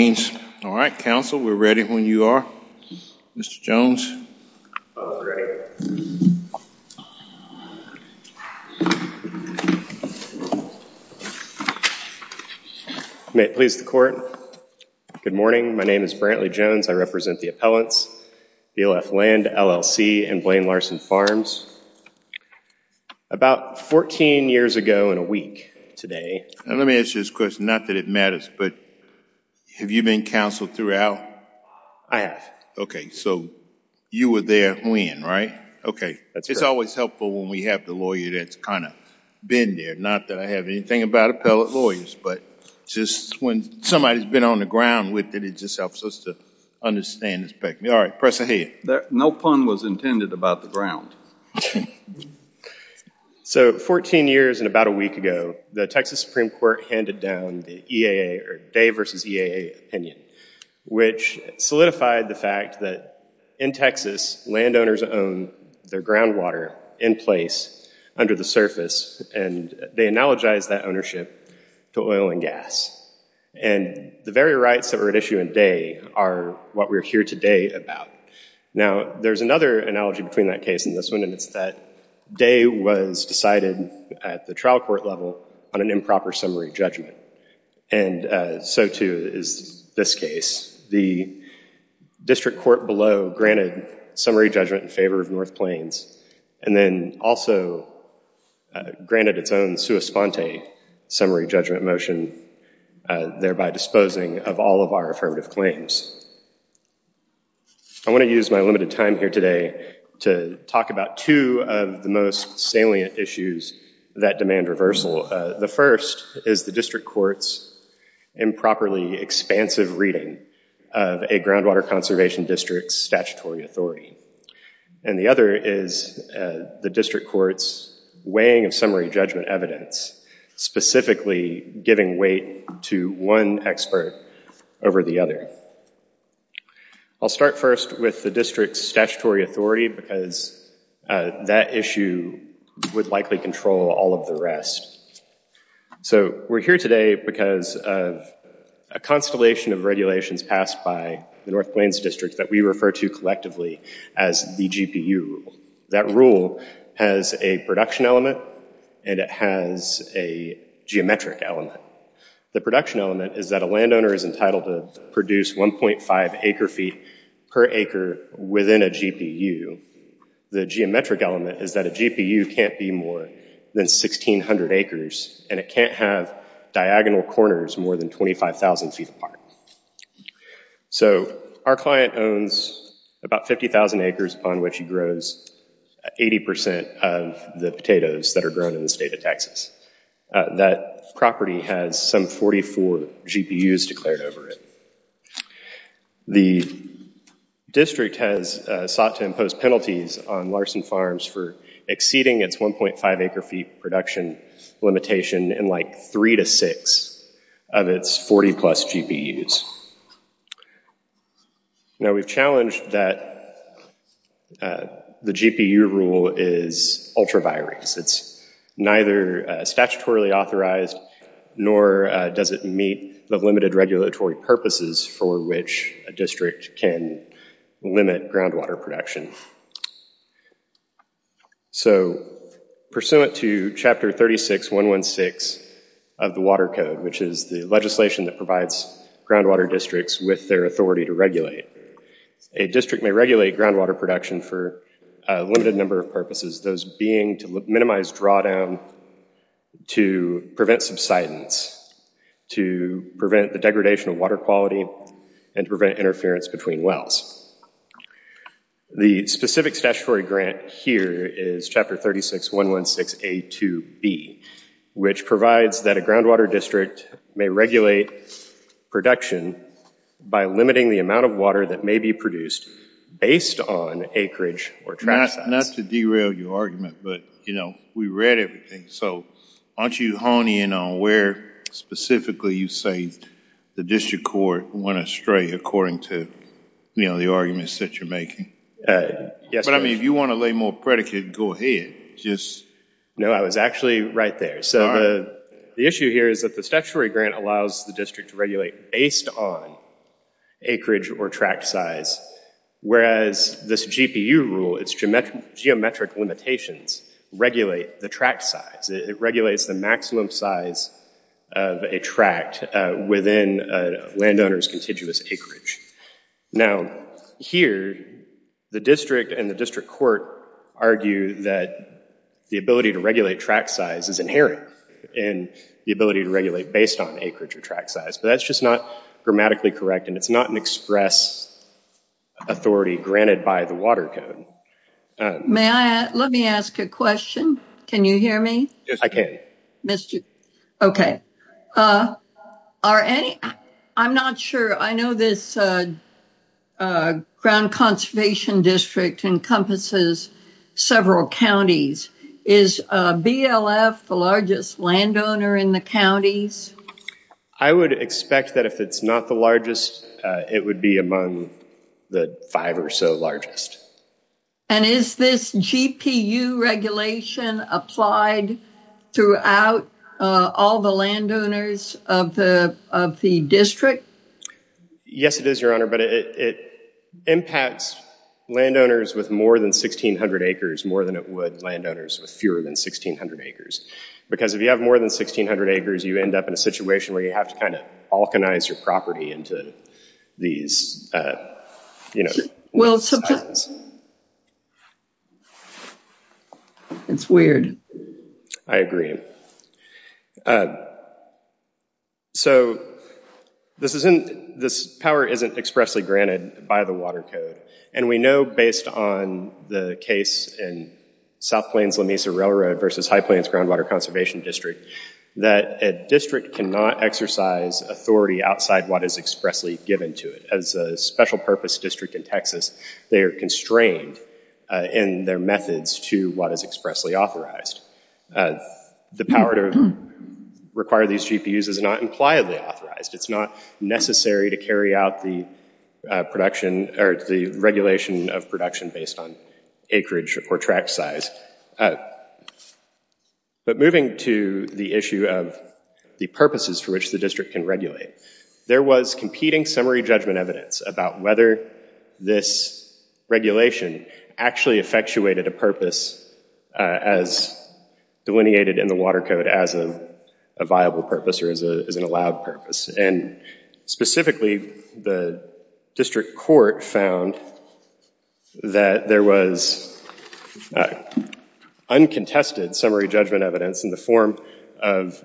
All right, counsel, we're ready when you are. Mr. Jones. May it please the court. Good morning, my name is Brantley Jones. I represent the appellants, BLF Land, LLC, and Blaine Larson Farms. About 14 years ago in a You've been counseled throughout? I have. Okay, so you were there when, right? Okay. It's always helpful when we have the lawyer that's kind of been there. Not that I have anything about appellate lawyers, but just when somebody's been on the ground with it, it just helps us to understand this. All right, press ahead. No pun was intended about the ground. So 14 years and about a week ago, the Texas Supreme Court handed down the EAA or Day v. EAA opinion, which solidified the fact that in Texas, landowners own their groundwater in place under the surface, and they analogize that ownership to oil and gas. And the very rights that were at issue in Day are what we're here today about. Now, there's another analogy between that case and this one, and it's that Day was decided at the trial court level on an improper summary judgment, and so too is this case. The district court below granted summary judgment in favor of North Plains, and then also granted its own sua sponte summary judgment motion, thereby disposing of all of our affirmative claims. I want to use my time here today to talk about two of the most salient issues that demand reversal. The first is the district court's improperly expansive reading of a groundwater conservation district's statutory authority, and the other is the district court's weighing of summary judgment evidence, specifically giving weight to one expert over the other. I'll start first with the district's statutory authority, because that issue would likely control all of the rest. So we're here today because of a constellation of regulations passed by the North Plains District that we refer to collectively as the GPU rule. That rule has a production element, and it has a geometric element. The production element is that a landowner is entitled to produce 1.5 acre feet per acre within a GPU. The geometric element is that a GPU can't be more than 1,600 acres, and it can't have diagonal corners more than 25,000 feet apart. So our client owns about 50,000 acres upon which he grows 80% of the potatoes that are grown in the state of Texas. That property has some 44 GPUs declared over it. The district has sought to impose penalties on Larson Farms for exceeding its 1.5 acre feet production limitation in like three to six of its 40-plus GPUs. Now we've challenged that the GPU rule is ultra-virus. It's neither statutorily authorized nor does it meet the limited regulatory purposes for which a district can limit groundwater production. So pursuant to Chapter 36.116 of the Water Code, which is the legislation that provides groundwater districts with their authority to regulate, a district may regulate groundwater production for a limited number of purposes, those being to minimize drawdown, to prevent subsidence, to prevent the degradation of water quality, and to prevent interference between wells. The specific statutory grant here is Chapter 36.116.A.2.B., which provides that a groundwater district may regulate production by limiting the amount of water that may be produced based on acreage or trash size. Not to derail your argument, but you know we read everything, so aren't you honing in on where specifically you say the district court went astray according to you know the arguments that you're making? Yes. But I mean if you want to lay more predicate, go ahead. No, I was actually right there. So the issue here is that the statutory grant allows the district to regulate based on acreage or tract size, whereas this GPU rule, its geometric limitations, regulate the tract size. It regulates the maximum size of a tract within a landowner's acreage. Now here, the district and the district court argue that the ability to regulate tract size is inherent in the ability to regulate based on acreage or tract size, but that's just not grammatically correct and it's not an express authority granted by the water code. May I, let me ask a question. Can you I know this Ground Conservation District encompasses several counties. Is BLF the largest landowner in the counties? I would expect that if it's not the largest, it would be among the five or so largest. And is this GPU regulation applied throughout all the landowners of the district? Yes, it is, Your Honor, but it impacts landowners with more than 1,600 acres more than it would land owners with fewer than 1,600 acres. Because if you have more than 1,600 acres, you end up in a situation where you have to kind of balkanize your property into these, you know. Well, it's weird. I agree. So this isn't, this power isn't expressly granted by the water code, and we know based on the case in South Plains-Lamesa Railroad versus High Plains Groundwater Conservation District that a district cannot exercise authority outside what is expressly given to it. As a special purpose district in Texas, they are constrained in their methods to what is expressly authorized. The power to require these GPUs is not impliedly authorized. It's not necessary to carry out the production or the regulation of production based on acreage or track size. But moving to the issue of the purposes for which the district can regulate, there was competing summary judgment evidence about whether this regulation actually effectuated a purpose as delineated in the water code as a viable purpose or as an allowed purpose. And specifically, the district court found that there was uncontested summary judgment evidence in the form of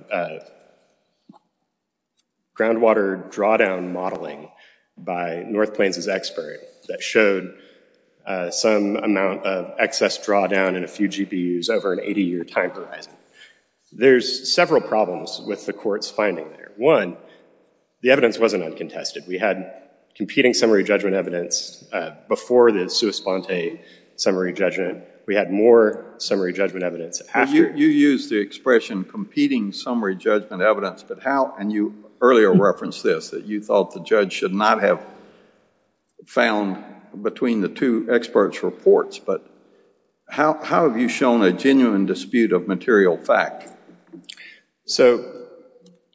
groundwater drawdown modeling by North Plains' expert that showed some amount of excess drawdown in a few GPUs over an 80-year time horizon. There's several problems with the court's finding there. One, the evidence wasn't uncontested. We had competing summary judgment evidence before the sua sponte summary judgment. We had more summary judgment evidence after. You used the expression competing summary judgment evidence, but how, and you earlier referenced this, that you thought the judge should not have found between the two experts' reports. But how have you shown a genuine dispute of material fact? So,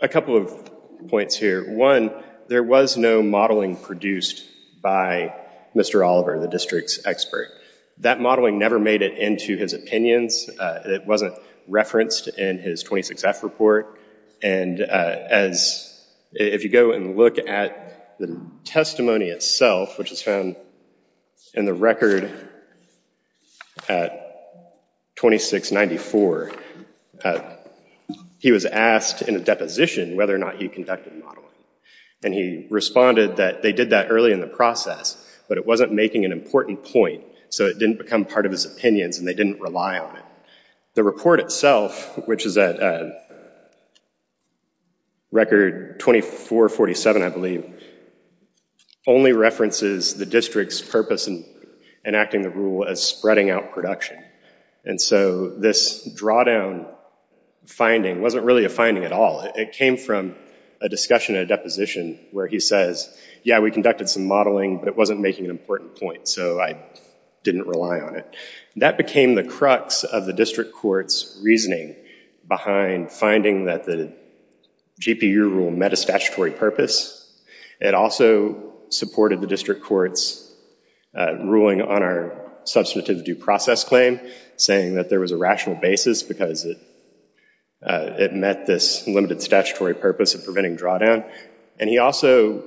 a couple of points here. One, there was no modeling produced by Mr. Oliver, the district's expert. That modeling never made it into his opinions. It wasn't referenced in his 26F report. And as, if you go and look at the testimony itself, which is found in the record at 2694, he was asked in a deposition whether or not he conducted modeling. And he responded that they did that early in the process, but it wasn't making an important point. So, it didn't become part of his opinions and they didn't rely on it. The report itself, which is at record 2447, I believe, only references the district's purpose in enacting the rule as spreading out production. And so, this drawdown finding wasn't really a finding at all. It came from a discussion in a deposition where he says, yeah, we conducted some modeling, but it wasn't making an important point. So, I didn't rely on it. That became the crux of the district court's reasoning behind finding that the GPU rule met a statutory purpose. It also supported the district court's ruling on our substantive due process claim, saying that there was a rational basis because it met this limited statutory purpose of having drawdown. And he also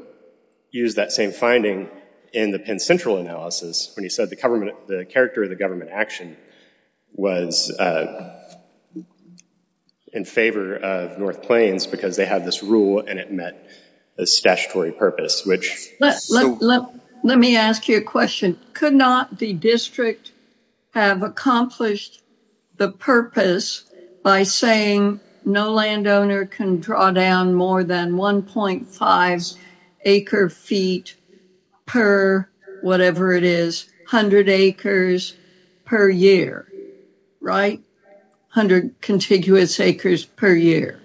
used that same finding in the Penn Central analysis when he said the government, the character of the government action was in favor of North Plains because they had this rule and it met a statutory purpose, which... Let me ask you a question. Could not the district have accomplished the purpose by saying no landowner can draw down more than 1.5 acre feet per whatever it is, 100 acres per year, right? 100 contiguous acres per year.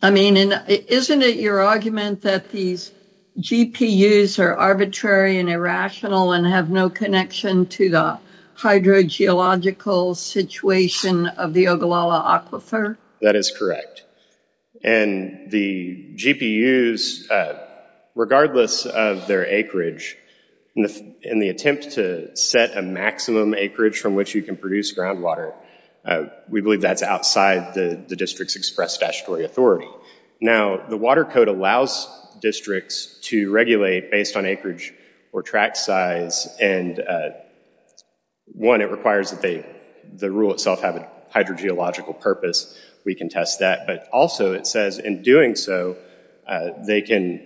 I mean, isn't it your argument that these GPUs are arbitrary and irrational and have no connection to the hydrogeological situation of the Ogallala Aquifer? That is correct. And the GPUs, regardless of their acreage, in the attempt to set a maximum acreage from which you can produce groundwater, we believe that's outside the district's express statutory authority. Now, the code allows districts to regulate based on acreage or tract size, and one, it requires that the rule itself have a hydrogeological purpose. We can test that. But also, it says in doing so, they can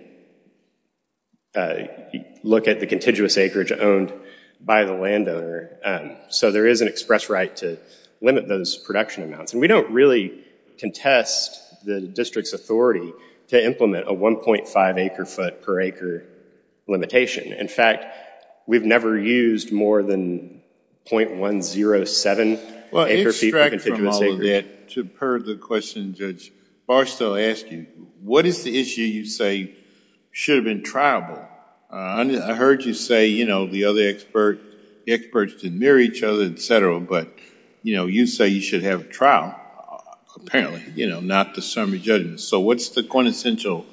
look at the contiguous acreage owned by the landowner. So there is an express right to limit those production amounts. And we don't really contest the district's authority to implement a 1.5 acre foot per acre limitation. In fact, we've never used more than 0.107 acre feet per contiguous acreage. Well, extract from all of that, to purge the question, Judge, Barstow asked you, what is the issue you say should have been triable? I heard you say, you know, the other experts didn't mirror each other, et cetera, but, you know, you say you should have a trial, apparently, you know, not the summary judgment. So what's the quintessential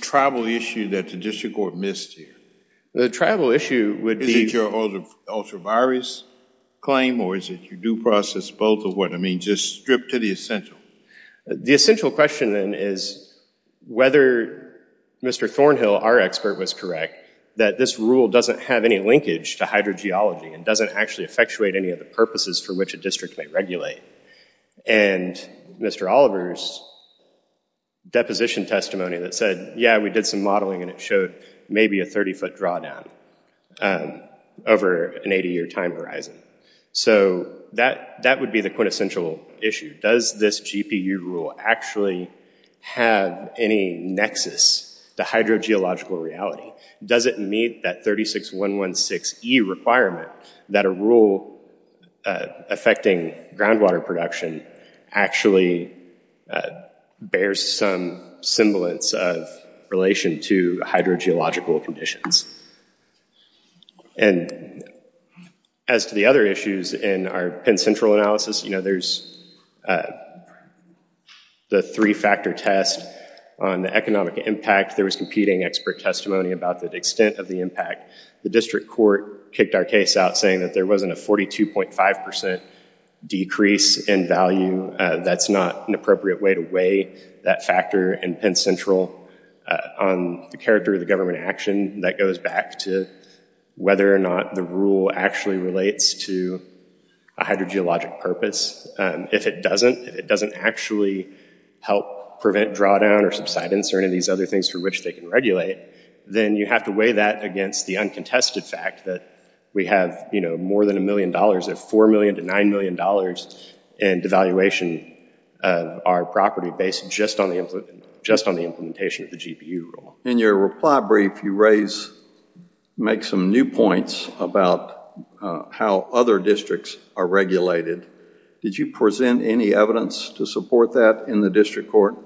tribal issue that the district court missed here? The tribal issue would be... Is it your ultra-virus claim, or is it your due process, both, or what? I mean, just strip to the essential. The essential question, then, is whether Mr. Thornhill, our expert, was correct, that this rule doesn't have any linkage to hydrogeology and doesn't actually effectuate any of the purposes for which a district may regulate. And Mr. Oliver's deposition testimony that said, yeah, we did some modeling, and it showed maybe a 30-foot drawdown over an 80-year time horizon. So that would be the quintessential issue. Does this GPU rule actually have any nexus to hydrogeological reality? Does it meet that 36116E requirement that a rule affecting groundwater production actually bears some semblance of relation to hydrogeological conditions? And as to the other issues in our Penn Central analysis, you know, there's the three-factor test on the economic impact. There was competing expert testimony about the extent of the impact. The district court kicked our case out saying that there wasn't a 42.5% decrease in value. That's not an appropriate way to weigh that factor in Penn Central. On the character of the government action, that goes back to whether or not the rule actually relates to a hydrogeologic purpose. If it doesn't, if it doesn't actually help prevent drawdown or subsidence or any of these other things for which they can regulate, then you have to weigh that against the uncontested fact that we have, you know, more than a million dollars at four million to nine million dollars in devaluation of our property based just on the implementation of the GPU rule. In your reply brief, you make some new points about how other districts are regulated. Did you present any evidence to support that in the district court?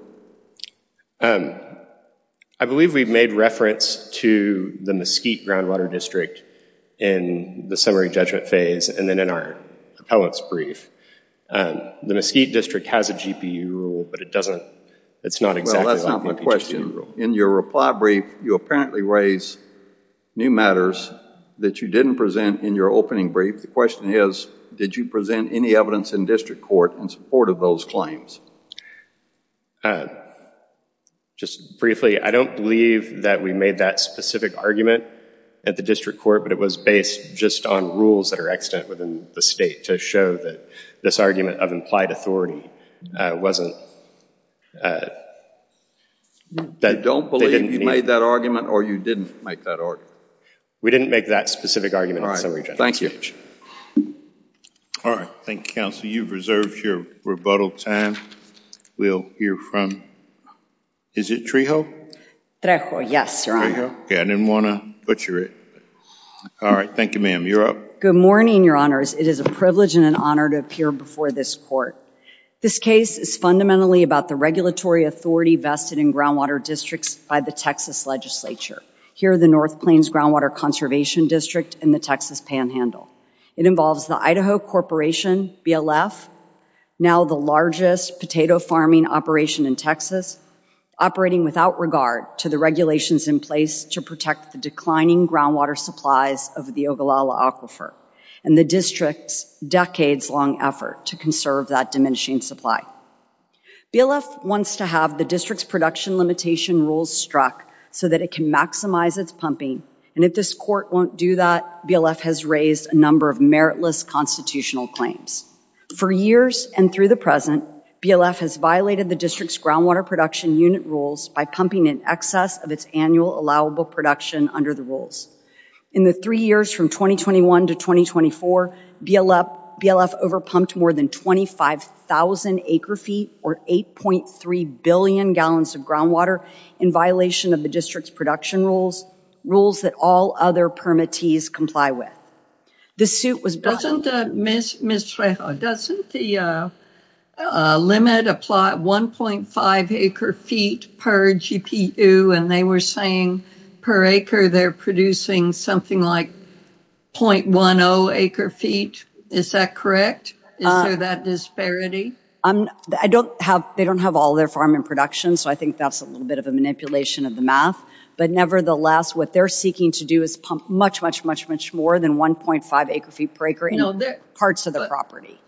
I believe we've made reference to the Mesquite groundwater district in the summary judgment phase and then in our appellant's brief. The Mesquite district has a GPU rule, but it doesn't, it's not exactly like the PGCU rule. Well, that's not my question. In your reply brief, you apparently raise new matters that you didn't present in your opening brief. The question is, did you present any evidence in district court in support of those claims? Just briefly, I don't believe that we made that specific argument at the district court, but it was based just on rules that are extant within the state to show that this argument of implied authority wasn't... You don't believe you made that argument or you didn't make that argument? We didn't make that specific argument. All right, thank you. All right, thank you, counsel. You've reserved your rebuttal time. We'll hear from, is it Trejo? Trejo, yes, your honor. Okay, I didn't want to butcher it. All right, thank you, ma'am. You're up. Good morning, your honors. It is a privilege and an honor to appear before this court. This case is fundamentally about the regulatory authority vested in groundwater districts by the Texas Legislature. Here are the North Plains Groundwater Conservation District and the Texas Panhandle. It involves the Idaho Corporation, BLF, now the largest potato farming operation in Texas, operating without regard to the regulations in place to protect the declining groundwater supplies of the Ogallala Aquifer and the district's decades-long effort to conserve that diminishing supply. BLF wants to have the district's production limitation rules struck so that it can maximize its pumping, and if this court won't do that, BLF has raised a number of meritless constitutional claims. For years and through the present, BLF has violated the district's groundwater production unit rules by pumping in excess of its annual allowable production under the rules. In the three years from 2021 to 2024, BLF overpumped more than 25,000 acre-feet or 8.3 billion gallons of groundwater in violation of the district's production rules, rules that all other permittees comply with. This suit was... Doesn't the limit apply 1.5 acre-feet per GPU and they were saying per acre they're producing something like 0.10 acre-feet, is that correct? Is there that disparity? I don't have, they don't have all their farm in production so I think that's a little bit of a manipulation of the math, but nevertheless what they're seeking to do is pump much, much, much, much more than 1.5 acre-feet per acre in parts of the property.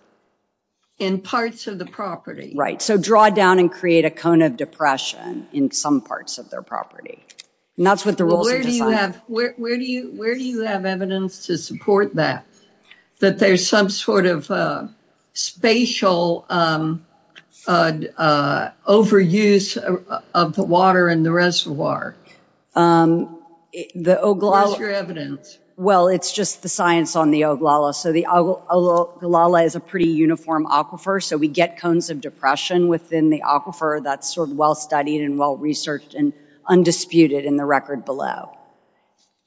In parts of the property? Right, so draw down and create a cone of depression in some parts of their property, and that's what the rules are designed for. Where do you have evidence to support that? That there's some sort of spatial overuse of the water in the reservoir? Where's your evidence? Well it's just the science on the Ogallala, so the Ogallala is a pretty uniform aquifer, so we get cones of depression within the aquifer that's sort of well studied and well researched and undisputed in the record below.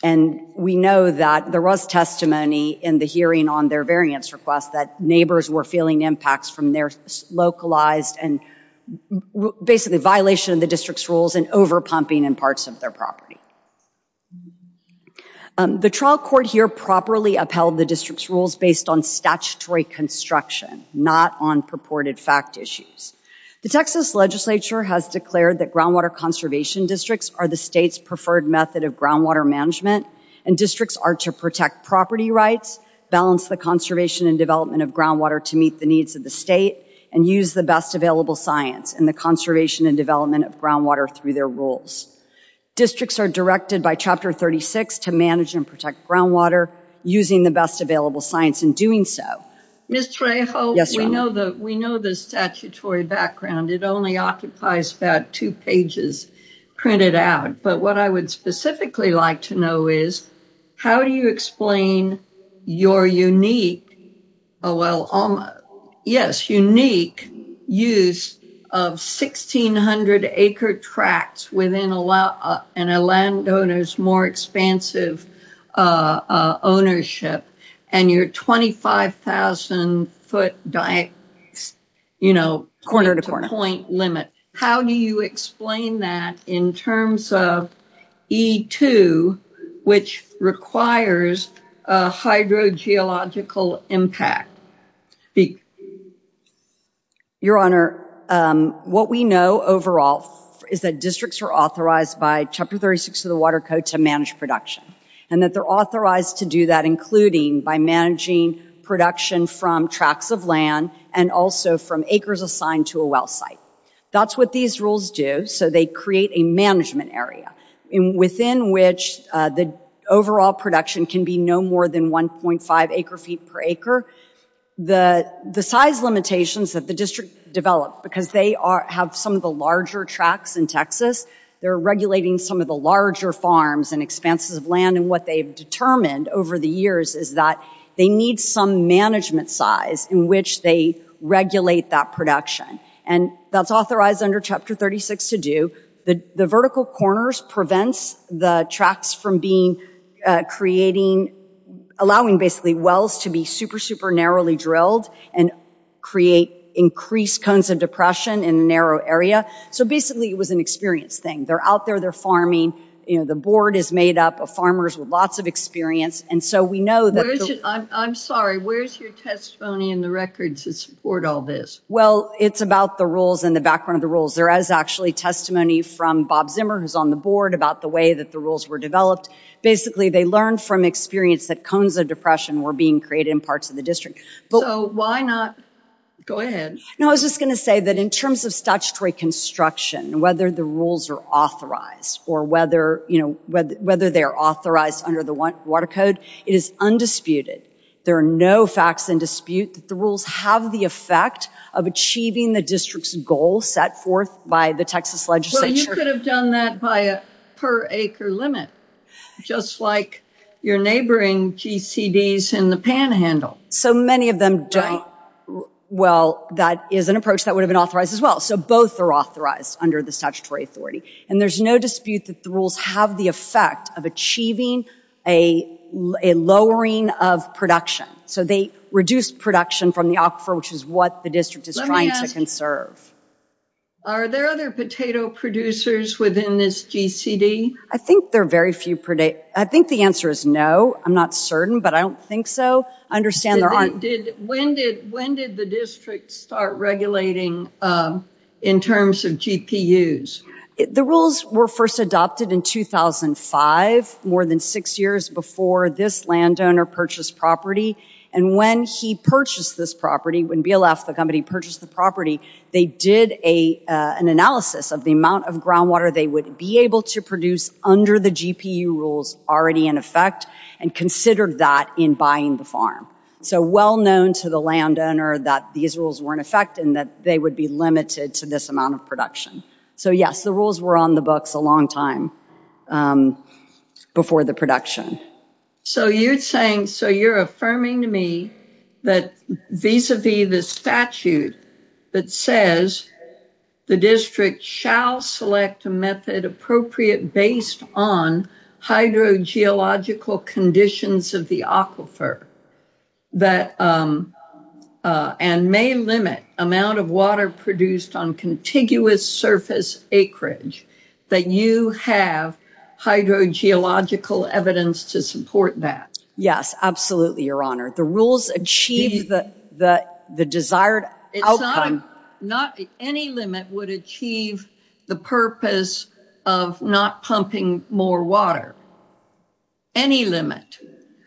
And we know that there was testimony in the hearing on their variance request that neighbors were feeling impacts from their localized and basically violation of the district's rules and over pumping in parts of their property. The trial court here properly upheld the district's rules based on statutory construction, not on purported fact issues. The Texas Legislature has declared that groundwater conservation districts are the state's preferred method of groundwater management, and districts are to protect property rights, balance the conservation and development of groundwater to meet the needs of the state, and use the best available science in the conservation and development of groundwater through their rules. Districts are directed by Chapter 36 to manage and protect groundwater using the best available science in doing so. Ms. Trejo, we know the statutory background, it occupies about two pages printed out, but what I would specifically like to know is, how do you explain your unique, oh well, yes, unique use of 1,600 acre tracts within a landowner's more expansive ownership, and your 25,000 foot you know, corner to corner limit. How do you explain that in terms of E2, which requires a hydrogeological impact? Your Honor, what we know overall is that districts are authorized by Chapter 36 of the Water Code to manage production, and that they're authorized to do that, including by managing production from tracts of land, and also from acres assigned to a well site. That's what these rules do, so they create a management area within which the overall production can be no more than 1.5 acre feet per acre. The size limitations that the district developed, because they have some of the larger tracts in Texas, they're regulating some of the larger farms and expanses of land, and what they've determined over the years is that they need some management size in which they regulate that production, and that's authorized under Chapter 36 to do. The vertical corners prevents the tracts from being, creating, allowing basically wells to be super, super narrowly drilled and create increased cones of depression in a narrow area, so basically it was an experience thing. They're out there, they're farming, you know, the board is made up of farmers with lots of experience, and so we know that... I'm sorry, where's your testimony in the records to support all this? Well, it's about the rules and the background of the rules. There is actually testimony from Bob Zimmer, who's on the board, about the way that the rules were developed. Basically, they learned from experience that cones of depression were being created in parts of the district. So, why not, go ahead. No, I was just going to say that in terms of statutory construction, whether the rules are authorized, or whether, you know, whether they are authorized under the Water Code, it is undisputed. There are no facts in dispute that the rules have the effect of achieving the district's goal set forth by the Texas legislature. Well, you could have done that by a per acre limit, just like your neighboring GCDs in the Panhandle. So many of them don't... Well, that is an approach that would have been authorized as well, so both are authorized under the statutory authority, and there's no dispute that the rules have the effect of achieving a lowering of production. So, they reduce production from the aquifer, which is what the district is trying to conserve. Are there other potato producers within this GCD? I think there are very few... I think the answer is no. I'm not certain, but I don't think so. I understand there aren't... When did the district start regulating in terms of GPUs? The rules were first adopted in 2005, more than six years before this landowner purchased property, and when he purchased this property, when BLF, the company, purchased the property, they did an analysis of the amount of groundwater they would be able to produce under the GPU rules already in effect, and considered that in buying the farm. So, well known to the landowner that these rules were in effect, and that they would be limited to this amount of production. So, yes, the rules were on the books a long time before the production. So, you're saying... So, you're affirming to me that vis-a-vis the statute that says the district shall select a method appropriate based on hydrogeological conditions of the aquifer, and may limit amount of water produced on contiguous surface acreage, that you have hydrogeological evidence to support that? Yes, absolutely, Your Honor. The rules achieve the desired outcome. It's not... Any limit would achieve the purpose of not pumping more water. Any limit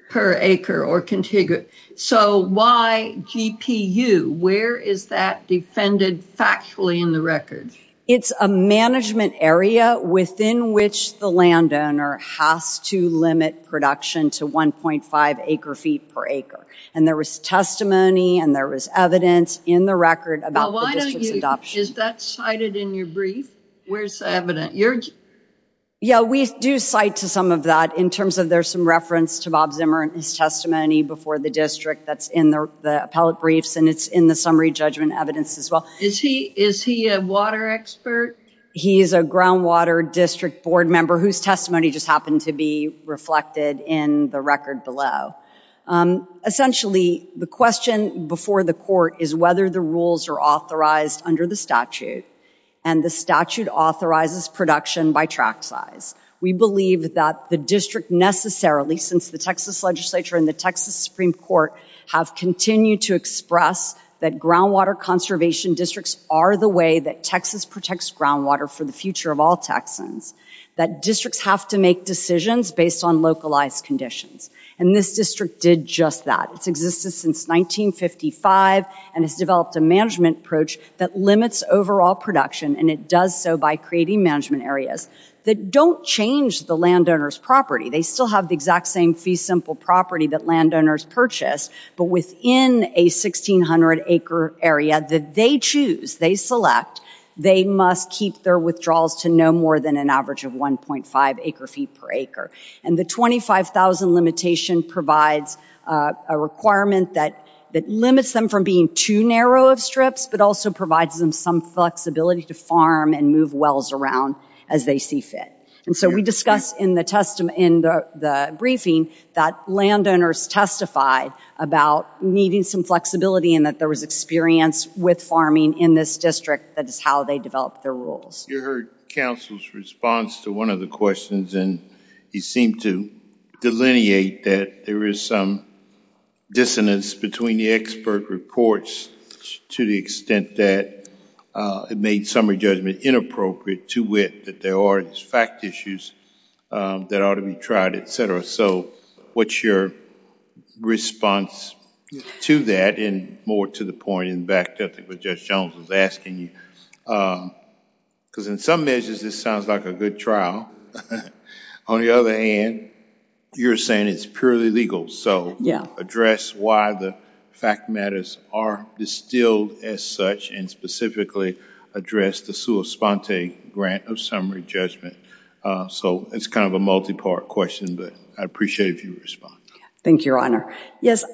per acre or contiguous. So, why GPU? Where is that defended factually in the record? It's a management area within which the landowner has to limit production to 1.5 acre feet per acre, and there was testimony, and there was evidence in the record about the district's adoption. Is that cited in your brief? Where's the evidence? Yeah, we do cite to some of that in terms of there's some reference to Bob Zimmer and his testimony before the district that's in the appellate briefs, and it's in the summary judgment evidence as well. Is he a water expert? He is a groundwater district board member whose testimony just happened to be reflected in the record below. Essentially, the question before the court is whether the rules are authorized under the statute, and the statute authorizes production by track size. We believe that the district necessarily, at least since the Texas legislature and the Texas Supreme Court, have continued to express that groundwater conservation districts are the way that Texas protects groundwater for the future of all Texans. That districts have to make decisions based on localized conditions, and this district did just that. It's existed since 1955 and has developed a management approach that limits overall production, and it does so by creating management areas that don't change the landowner's property. They still have the exact same fee simple property that landowners purchase, but within a 1600 acre area that they choose, they select, they must keep their withdrawals to no more than an average of 1.5 acre feet per acre. And the 25,000 limitation provides a requirement that limits them from being too narrow of strips, but also provides them some flexibility to farm and move wells around as they see fit. And so we discussed in the briefing that landowners testified about needing some flexibility and that there was experience with farming in this district, that is how they developed their rules. You heard counsel's response to one of the questions, and he seemed to delineate that there is some dissonance between the expert reports to the extent that it made summary judgment inappropriate to wit that there are these fact issues that ought to be tried, et cetera. So what's your response to that and more to the point in the back that I think Judge Jones was asking you? Because in some measures, this sounds like a good trial. On the other hand, you're saying it's purely legal, so address why the fact matters are distilled as such and specifically address the sua sponte grant of summary judgment. So it's kind of a multi-part question, but I'd appreciate if you would respond. Thank you, Your Honor. Yes,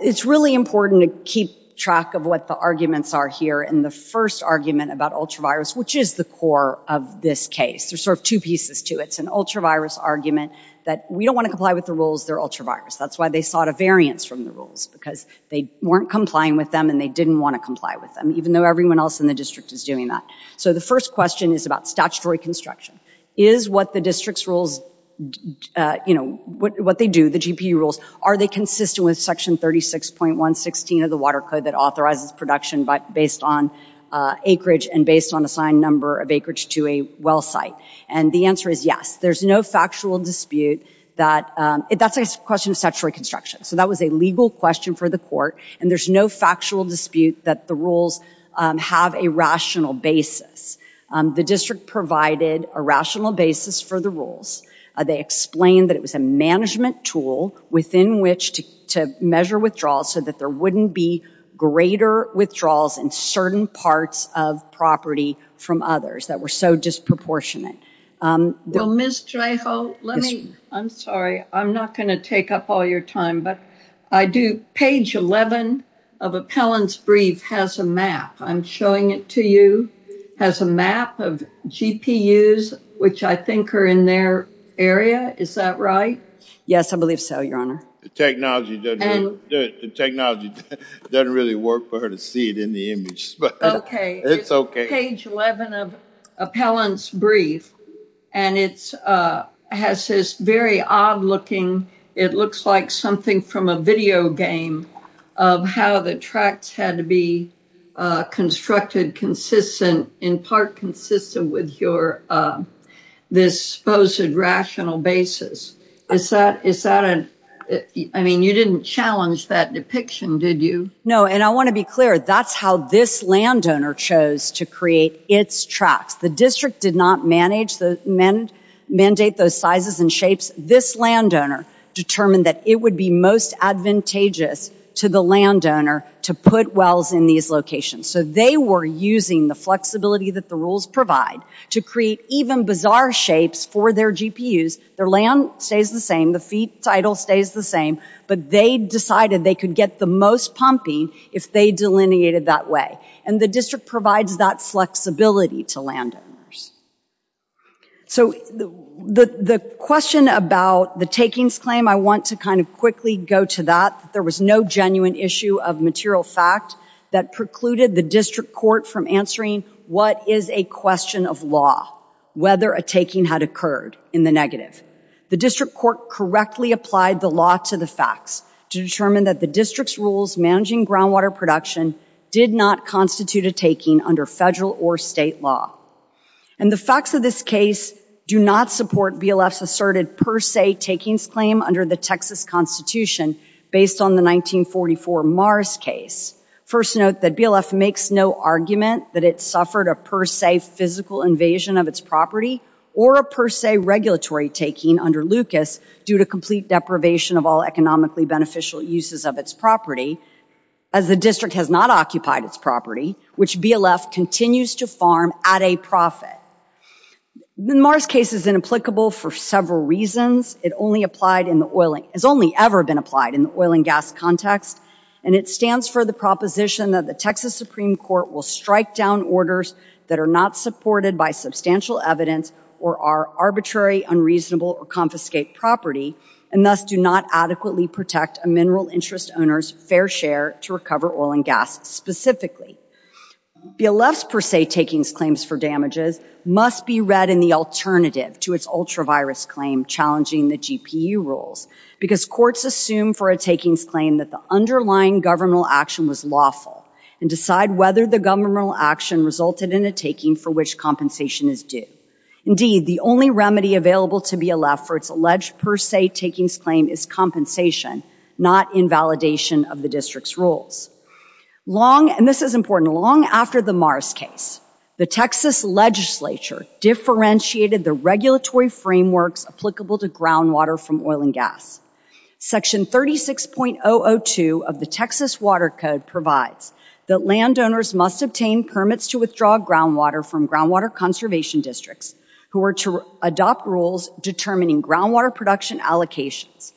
it's really important to keep track of what the arguments are here in the first argument about ultravirus, which is the core of this case. There's sort of two pieces to it. It's an ultravirus argument that we don't want to comply with the rules, they're ultravirus. That's why they sought a variance from the rules, because they weren't complying with them and they didn't want to comply with them, even though everyone else in the district is doing that. So the first question is about statutory construction. Is what the district's rules, you know, what they do, the GP rules, are they consistent with Section 36.116 of the Water Code that authorizes production based on acreage and based on assigned number of acreage to a well site? And the answer is yes. There's no factual dispute that, that's a question of statutory construction. So that was a legal question for the court. And there's no factual dispute that the rules have a rational basis. The district provided a rational basis for the rules. They explained that it was a management tool within which to measure withdrawals so that there wouldn't be greater withdrawals in certain parts of property from others that were so disproportionate. Well, Ms. Trejo, let me, I'm sorry, I'm not going to take up all your time, but I do, page 11 of appellant's brief has a map. I'm showing it to you, has a map of GPUs, which I think are in their area. Is that right? Yes, I believe so, Your Honor. The technology doesn't really work for her to see it in the image, but it's okay. Page 11 of appellant's brief, and it's, has this very odd looking, it looks like something from a video game of how the tracts had to be constructed, consistent, in part consistent with your, this supposed rational basis. Is that, is that a, I mean, you didn't challenge that depiction, did you? No, and I want to be clear, that's how this landowner chose to create its tracts. The district did not manage the, mandate those sizes and shapes. This landowner determined that it would be most advantageous to the landowner to put wells in these locations. So they were using the flexibility that the rules provide to create even bizarre shapes for their GPUs. Their land stays the same, the feed title stays the same, but they decided they could get the most pumping if they delineated that way. And the district provides that flexibility to landowners. So the, the question about the takings claim, I want to kind of quickly go to that. There was no genuine issue of material fact that precluded the district court from answering what is a question of law, whether a taking had occurred in the negative. The district court correctly applied the law to the facts to determine that the district's rules managing groundwater production did not constitute a taking under federal or state law. And the facts of this case do not support BLF's asserted per se takings claim under the Texas Constitution based on the 1944 Mars case. First note that BLF makes no argument that it suffered a per se physical invasion of its property or a per se regulatory taking under Lucas due to complete deprivation of all economically beneficial uses of its property as the district has not occupied its property, which BLF continues to farm at a profit. The Mars case is inapplicable for several reasons. It only applied in the oil, has only ever been applied in the oil and gas context. And it stands for the proposition that the Texas Supreme Court will strike down orders that are not supported by substantial evidence or are arbitrary, unreasonable or confiscate property and thus do not adequately protect a mineral interest owner's fair share to recover oil and gas specifically. BLF's per se takings claims for damages must be read in the alternative to its ultra virus claim challenging the GPU rules because courts assume for a takings claim that the underlying governmental action was lawful and decide whether the governmental action resulted in a taking for which compensation is due. Indeed, the only remedy available to BLF for its alleged per se takings claim is compensation, not invalidation of the district's rules. Long, and this is important, long after the Mars case, the Texas legislature differentiated the regulatory frameworks applicable to groundwater from oil and gas. Section 36.002 of the Texas Water Code provides that landowners must obtain permits to withdraw groundwater from groundwater conservation districts who are to adopt rules determining groundwater production allocations.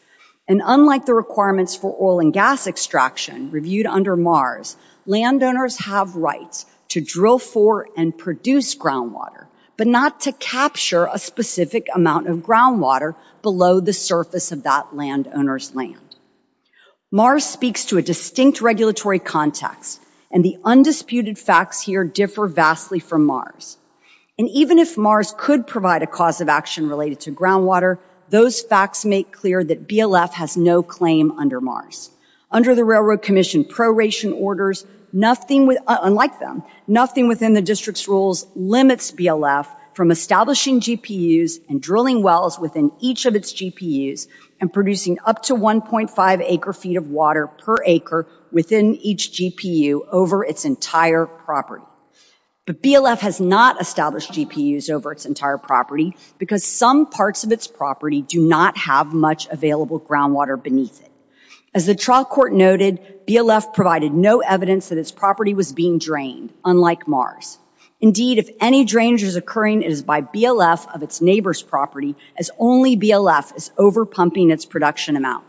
And unlike the requirements for oil and gas extraction reviewed under Mars, landowners have rights to drill for and produce groundwater, but not to capture a specific amount of groundwater below the surface of that landowner's land. Mars speaks to a distinct regulatory context, and the undisputed facts here differ vastly from Mars. And even if Mars could provide a cause of action related to groundwater, those facts make clear that BLF has no claim under Mars. Under the Railroad Commission proration orders, nothing, unlike them, nothing within the district's rules limits BLF from establishing GPUs and drilling wells within each of its GPUs and producing up to 1.5 acre feet of water per acre within each GPU over its entire property. But BLF has not established GPUs over its entire property because some parts of its property do not have much available groundwater beneath it. As the trial court noted, BLF provided no evidence that its property was being drained, unlike Mars. Indeed, if any drainage is occurring, it is by BLF of its neighbor's property as only BLF is over pumping its production amount.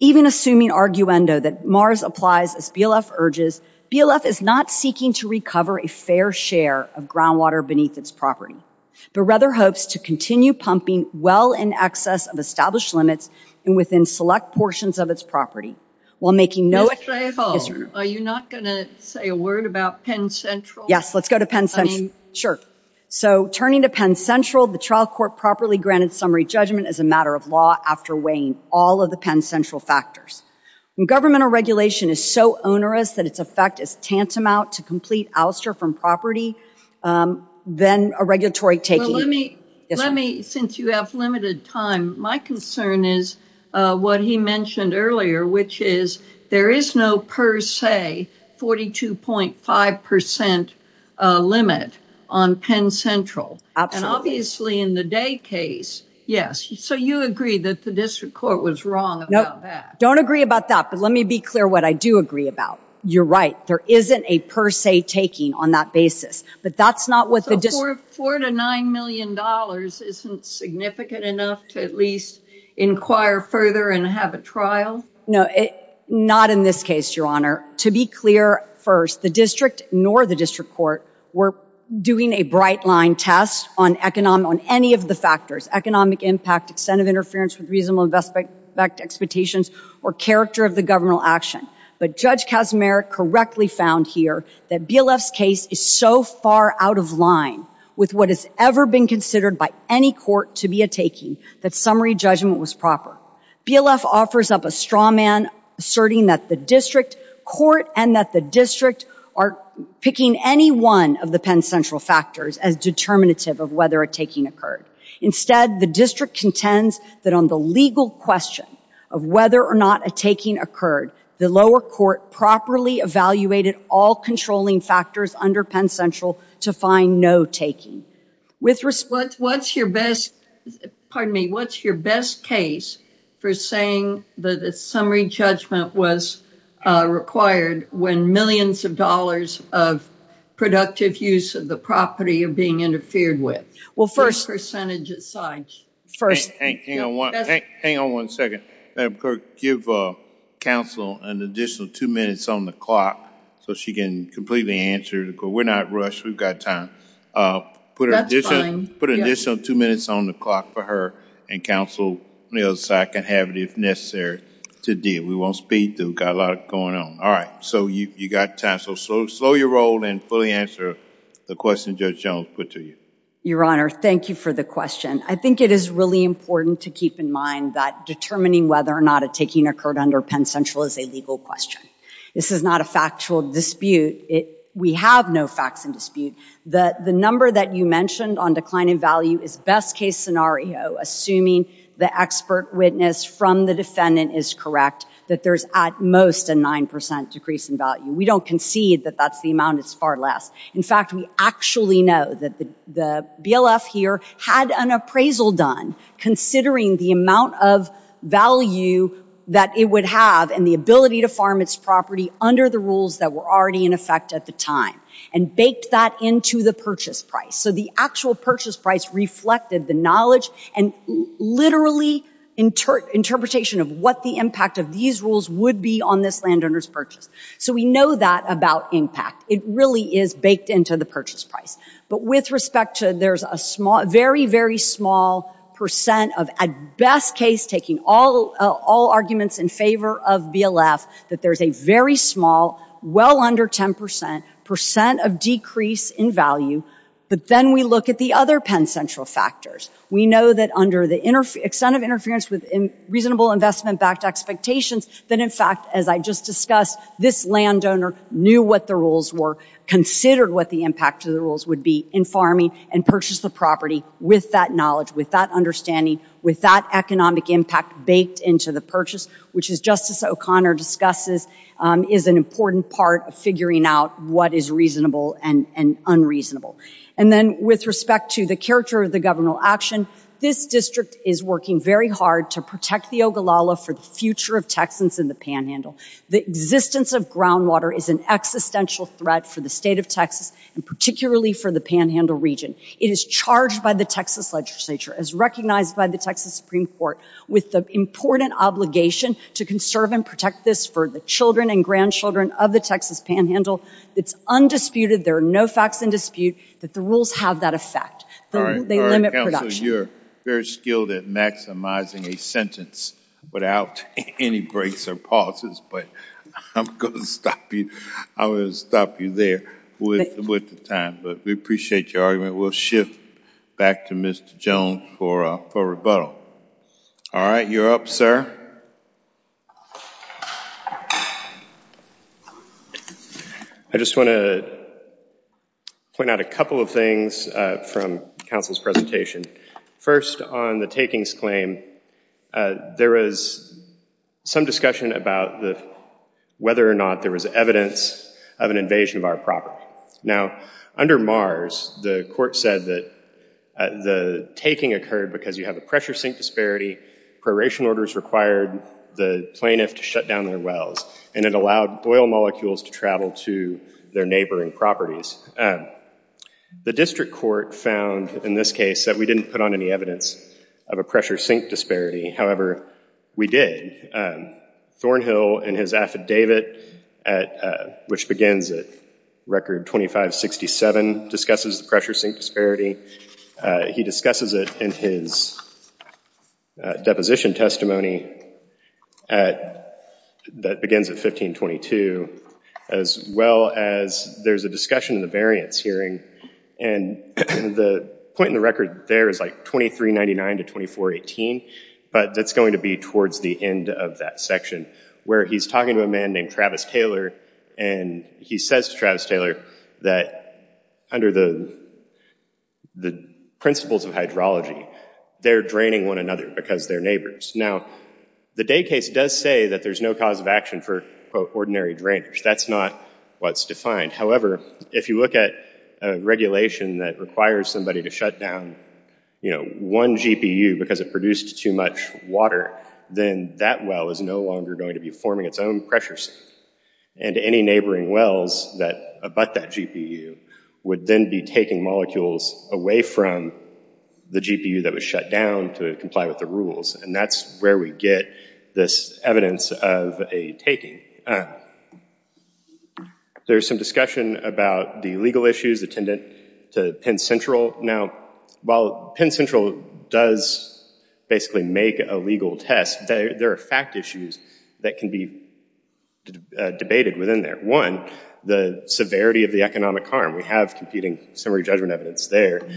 Even assuming arguendo that Mars applies as BLF urges, BLF is not seeking to recover a fair share of groundwater beneath its property, but rather hopes to continue pumping well in excess of established limits and within select portions of its property. While making no... Mr. Aho, are you not going to say a word about Penn Central? Yes, let's go to Penn Central. Sure. So, turning to Penn Central, the trial court properly granted summary judgment as a matter of law after weighing all of the Penn Central factors. Governmental regulation is so onerous that its effect is tantamount to complete ouster from property. Then a regulatory taking... Let me, since you have limited time, my concern is what he mentioned earlier, which is there is no per se 42.5% limit on Penn Central. And obviously in the Day case, yes. So, you agree that the district court was wrong about that. Don't agree about that, but let me be clear what I do agree about. You're right. There isn't a per se taking on that basis. But that's not what the district... Four to nine million dollars isn't significant enough to at least inquire further and have a trial? No, not in this case, Your Honor. To be clear first, the district nor the district court were doing a bright line test on any of the factors, economic impact, extent of interference with reasonable investment expectations, or character of the governmental action. But Judge Kaczmarek correctly found here that BLF's case is so far out of line with what has ever been considered by any court to be a taking that summary judgment was proper. BLF offers up a straw man asserting that the district court and that the district are picking any one of the Penn Central factors as determinative of whether a taking occurred. Instead, the district contends that on the legal question of whether or not a taking occurred, the lower court properly evaluated all controlling factors under Penn Central to find no taking. With respect... What's your best, pardon me, what's your best case for saying that a summary judgment was required when millions of dollars of productive use of the property are being interfered with? Well, first... Percentage aside. First... Hang on one second. Madam Clerk, give counsel an additional two minutes on the clock so she can completely answer the court. We're not rushed. We've got time. That's fine. Put an additional two minutes on the clock for her, and counsel on the other side can have it if necessary to deal. We won't speed through. Got a lot going on. All right. So you got time. So slow your roll and fully answer the question Judge Jones put to you. Your Honor, thank you for the question. I think it is really important to keep in mind that determining whether or not a taking occurred under Penn Central is a legal question. This is not a factual dispute. We have no facts in dispute. The number that you mentioned on decline in value is best case scenario, assuming the expert witness from the defendant is correct, that there's at most a 9% decrease in value. We don't concede that that's the amount. It's far less. In fact, we actually know that the BLF here had an appraisal done, considering the amount of value that it would have and the ability to farm its property under the rules that were already in effect at the time, and baked that into the purchase price. So the actual purchase price reflected the knowledge and literally interpretation of what the impact of these rules would be on this landowner's purchase. So we know that about impact. It really is baked into the purchase price. But with respect to there's a very, very small percent of, at best case, taking all arguments in favor of BLF, that there's a very small, well under 10% percent of decrease in value. But then we look at the other Penn Central factors. We know that under the extent of interference with reasonable investment backed expectations, that in fact, as I just discussed, this landowner knew what the rules were, considered what the impact of the rules would be in farming, and purchased the property with that knowledge, with that understanding, with that economic impact baked into the purchase, which, as Justice O'Connor discusses, is an important part of figuring out what is reasonable and unreasonable. And then with respect to the character of the governmental action, this district is working very hard to protect the Ogallala for the future of Texans in the Panhandle. The existence of groundwater is an existential threat for the state of Texas and particularly for the Panhandle region. It is charged by the Texas legislature, as recognized by the Texas Supreme Court, with the important obligation to conserve and protect this for the children and grandchildren of the Texas Panhandle. It's undisputed. There are no facts in dispute that the rules have that effect. They limit production. So you're very skilled at maximizing a sentence without any breaks or pauses, but I'm going to stop you there with the time. But we appreciate your argument. We'll shift back to Mr. Jones for rebuttal. All right, you're up, sir. I just want to point out a couple of things from counsel's presentation. First, on the takings claim, there was some discussion about whether or not there was evidence of an invasion of our property. Now, under MARS, the court said that the taking occurred because you have a pressure sink disparity, proration orders required the plaintiff to shut down their wells, and it allowed oil molecules to travel to their neighboring properties. The district court found, in this case, that we didn't put on any evidence of a pressure sink disparity. However, we did. Thornhill, in his affidavit, which begins at record 2567, discusses the pressure sink disparity. He discusses it in his deposition testimony that begins at 1522, as well as there's a discussion in the variance hearing. And the point in the record there is like 2399 to 2418, but that's going to be towards the end of that section, where he's talking to a man named Travis Taylor, and he says to Travis Taylor that under the principles of hydrology, they're draining one another because they're neighbors. Now, the day case does say that there's no cause of action for, quote, ordinary drainers. That's not what's defined. However, if you look at a regulation that requires somebody to shut down one GPU because it produced too much water, then that well is no longer going to be forming its own pressure sink. And any neighboring wells that abut that GPU would then be taking molecules away from the GPU that was shut down to comply with the rules. And that's where we get this evidence of a taking. There's some discussion about the legal issues attendant to Penn Central. Now, while Penn Central does basically make a legal test, there are fact issues that can be debated within there. One, the severity of the economic harm. We have competing summary judgment evidence there.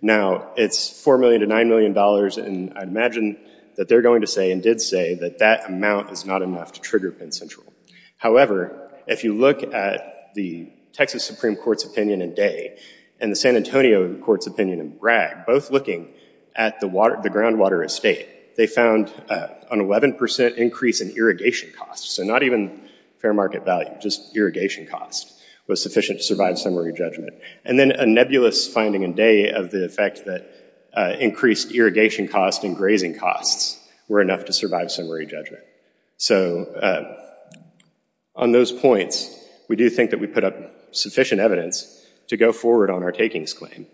Now, it's $4 million to $9 million, and I'd imagine that they're going to say and did say that that amount is not enough to trigger Penn Central. However, if you look at the Texas Supreme Court's opinion in Dey and the San Antonio court's opinion in Bragg, both looking at the groundwater estate, they found an 11% increase in irrigation costs. So not even fair market value, just irrigation cost was sufficient to survive summary judgment. And then a nebulous finding in Dey of the effect that increased irrigation costs and grazing costs were enough to survive summary judgment. So on those points, we do think that we put up sufficient evidence to go forward on our takings claim.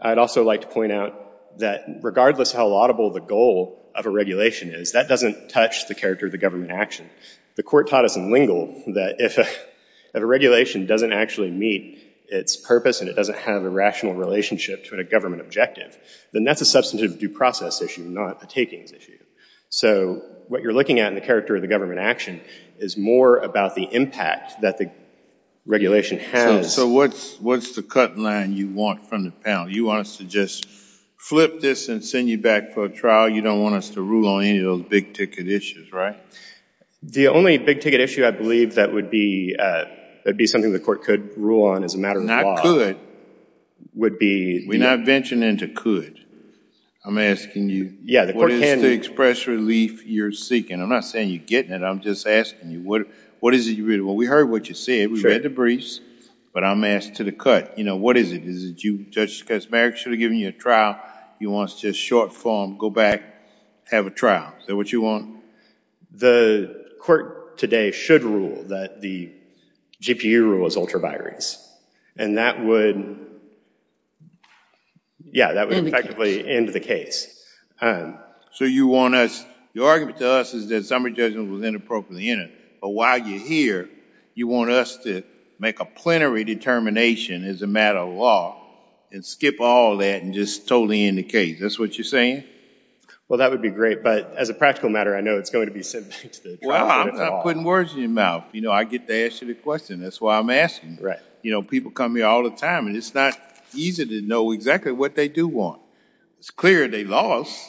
I'd also like to point out that regardless how laudable the goal of a regulation is, that doesn't touch the character of the government action. The court taught us in Lingle that if a regulation doesn't actually meet its purpose and it doesn't have a rational relationship to a government objective, then that's a substantive due process issue, not a takings issue. So what you're looking at in the character of the government action is more about the impact that the regulation has. So what's the cut line you want from the panel? You want us to just flip this and send you back for a trial? You don't want us to rule on any of those big ticket issues, right? The only big ticket issue I believe that would be something the court could rule on is a matter of law. We're not venturing into could. I'm asking you, what is the express relief you're seeking? I'm not saying you're getting it. I'm just asking you, what is it you're reading? Well, we heard what you said. We read the briefs. But I'm asked to the cut. What is it? Is it you, Judge Casimiro, should have given you a trial. You want us to short form, go back, have a trial? Is that what you want? The court today should rule that the GPU rule is ultraviolence. And that would effectively end the case. So you want us, your argument to us is that summary judgment was inappropriately entered. But while you're here, you want us to make a plenary determination as a matter of law and skip all that and just totally end the case. That's what you're saying? Well, that would be great. But as a practical matter, I know it's going to be sent back to the court. Well, I'm not putting words in your mouth. I get to ask you the question. That's why I'm asking. People come here all the time. And it's not easy to know exactly what they do want. It's clear they lost.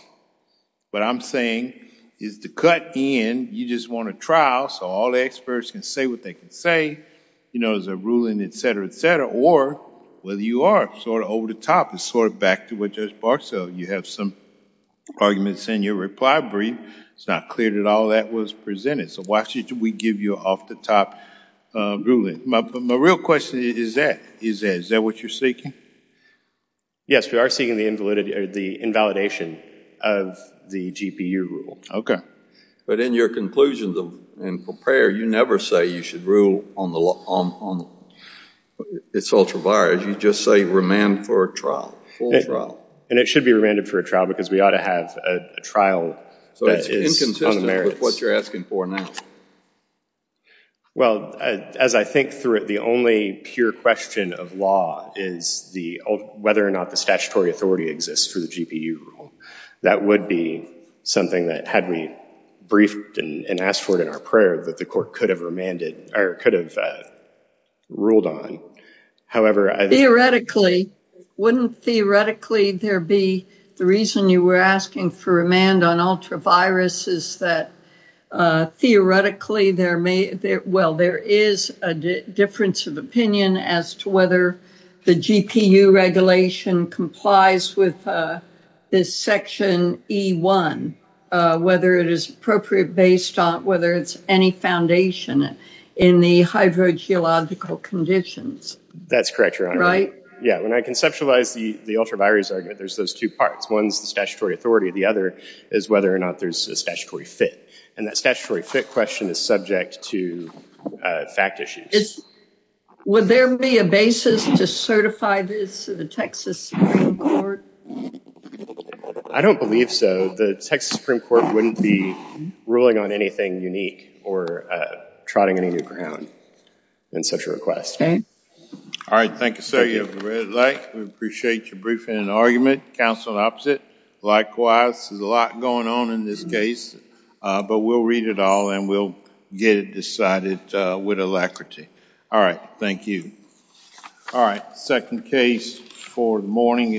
What I'm saying is to cut in, you just want a trial so all the experts can say what they can say. There's a ruling, et cetera, et cetera. Or whether you are sort of over the top and sort of back to what Judge Barksdale, you have some arguments in your reply brief. It's not clear that all that was presented. So why should we give you an off-the-top ruling? My real question is that. Is that what you're seeking? Yes, we are seeking the invalidation of the GPU rule. OK. But in your conclusions and for prayer, you never say you should rule on the law. It's ultraviolet. You just say remand for a trial, full trial. And it should be remanded for a trial because we ought to have a trial that is on the merits. So it's inconsistent with what you're asking for now. Well, as I think through it, the only pure question of law is whether or not the statutory authority exists for the GPU rule. That would be something that, had we briefed and asked for it in our prayer, that the court could have remanded or could have ruled on. However, I think that's a good question. Wouldn't theoretically there be the reason you were asking for remand on ultraviruses that theoretically there may be? Well, there is a difference of opinion as to whether the GPU regulation complies with this section E1, whether it is appropriate based on whether it's any foundation in the hydrogeological conditions. That's correct, Your Honor. Yeah, when I conceptualize the ultravirus argument, there's those two parts. One's the statutory authority. The other is whether or not there's a statutory fit. And that statutory fit question is subject to fact issues. Would there be a basis to certify this to the Texas Supreme Court? I don't believe so. The Texas Supreme Court wouldn't be ruling on anything unique or trotting any new ground in such a request. All right, thank you, sir. You have the red light. We appreciate your briefing and argument. Counsel, opposite. Likewise, there's a lot going on in this case. But we'll read it all, and we'll get it decided with alacrity. All right, thank you. All right, second case for the morning.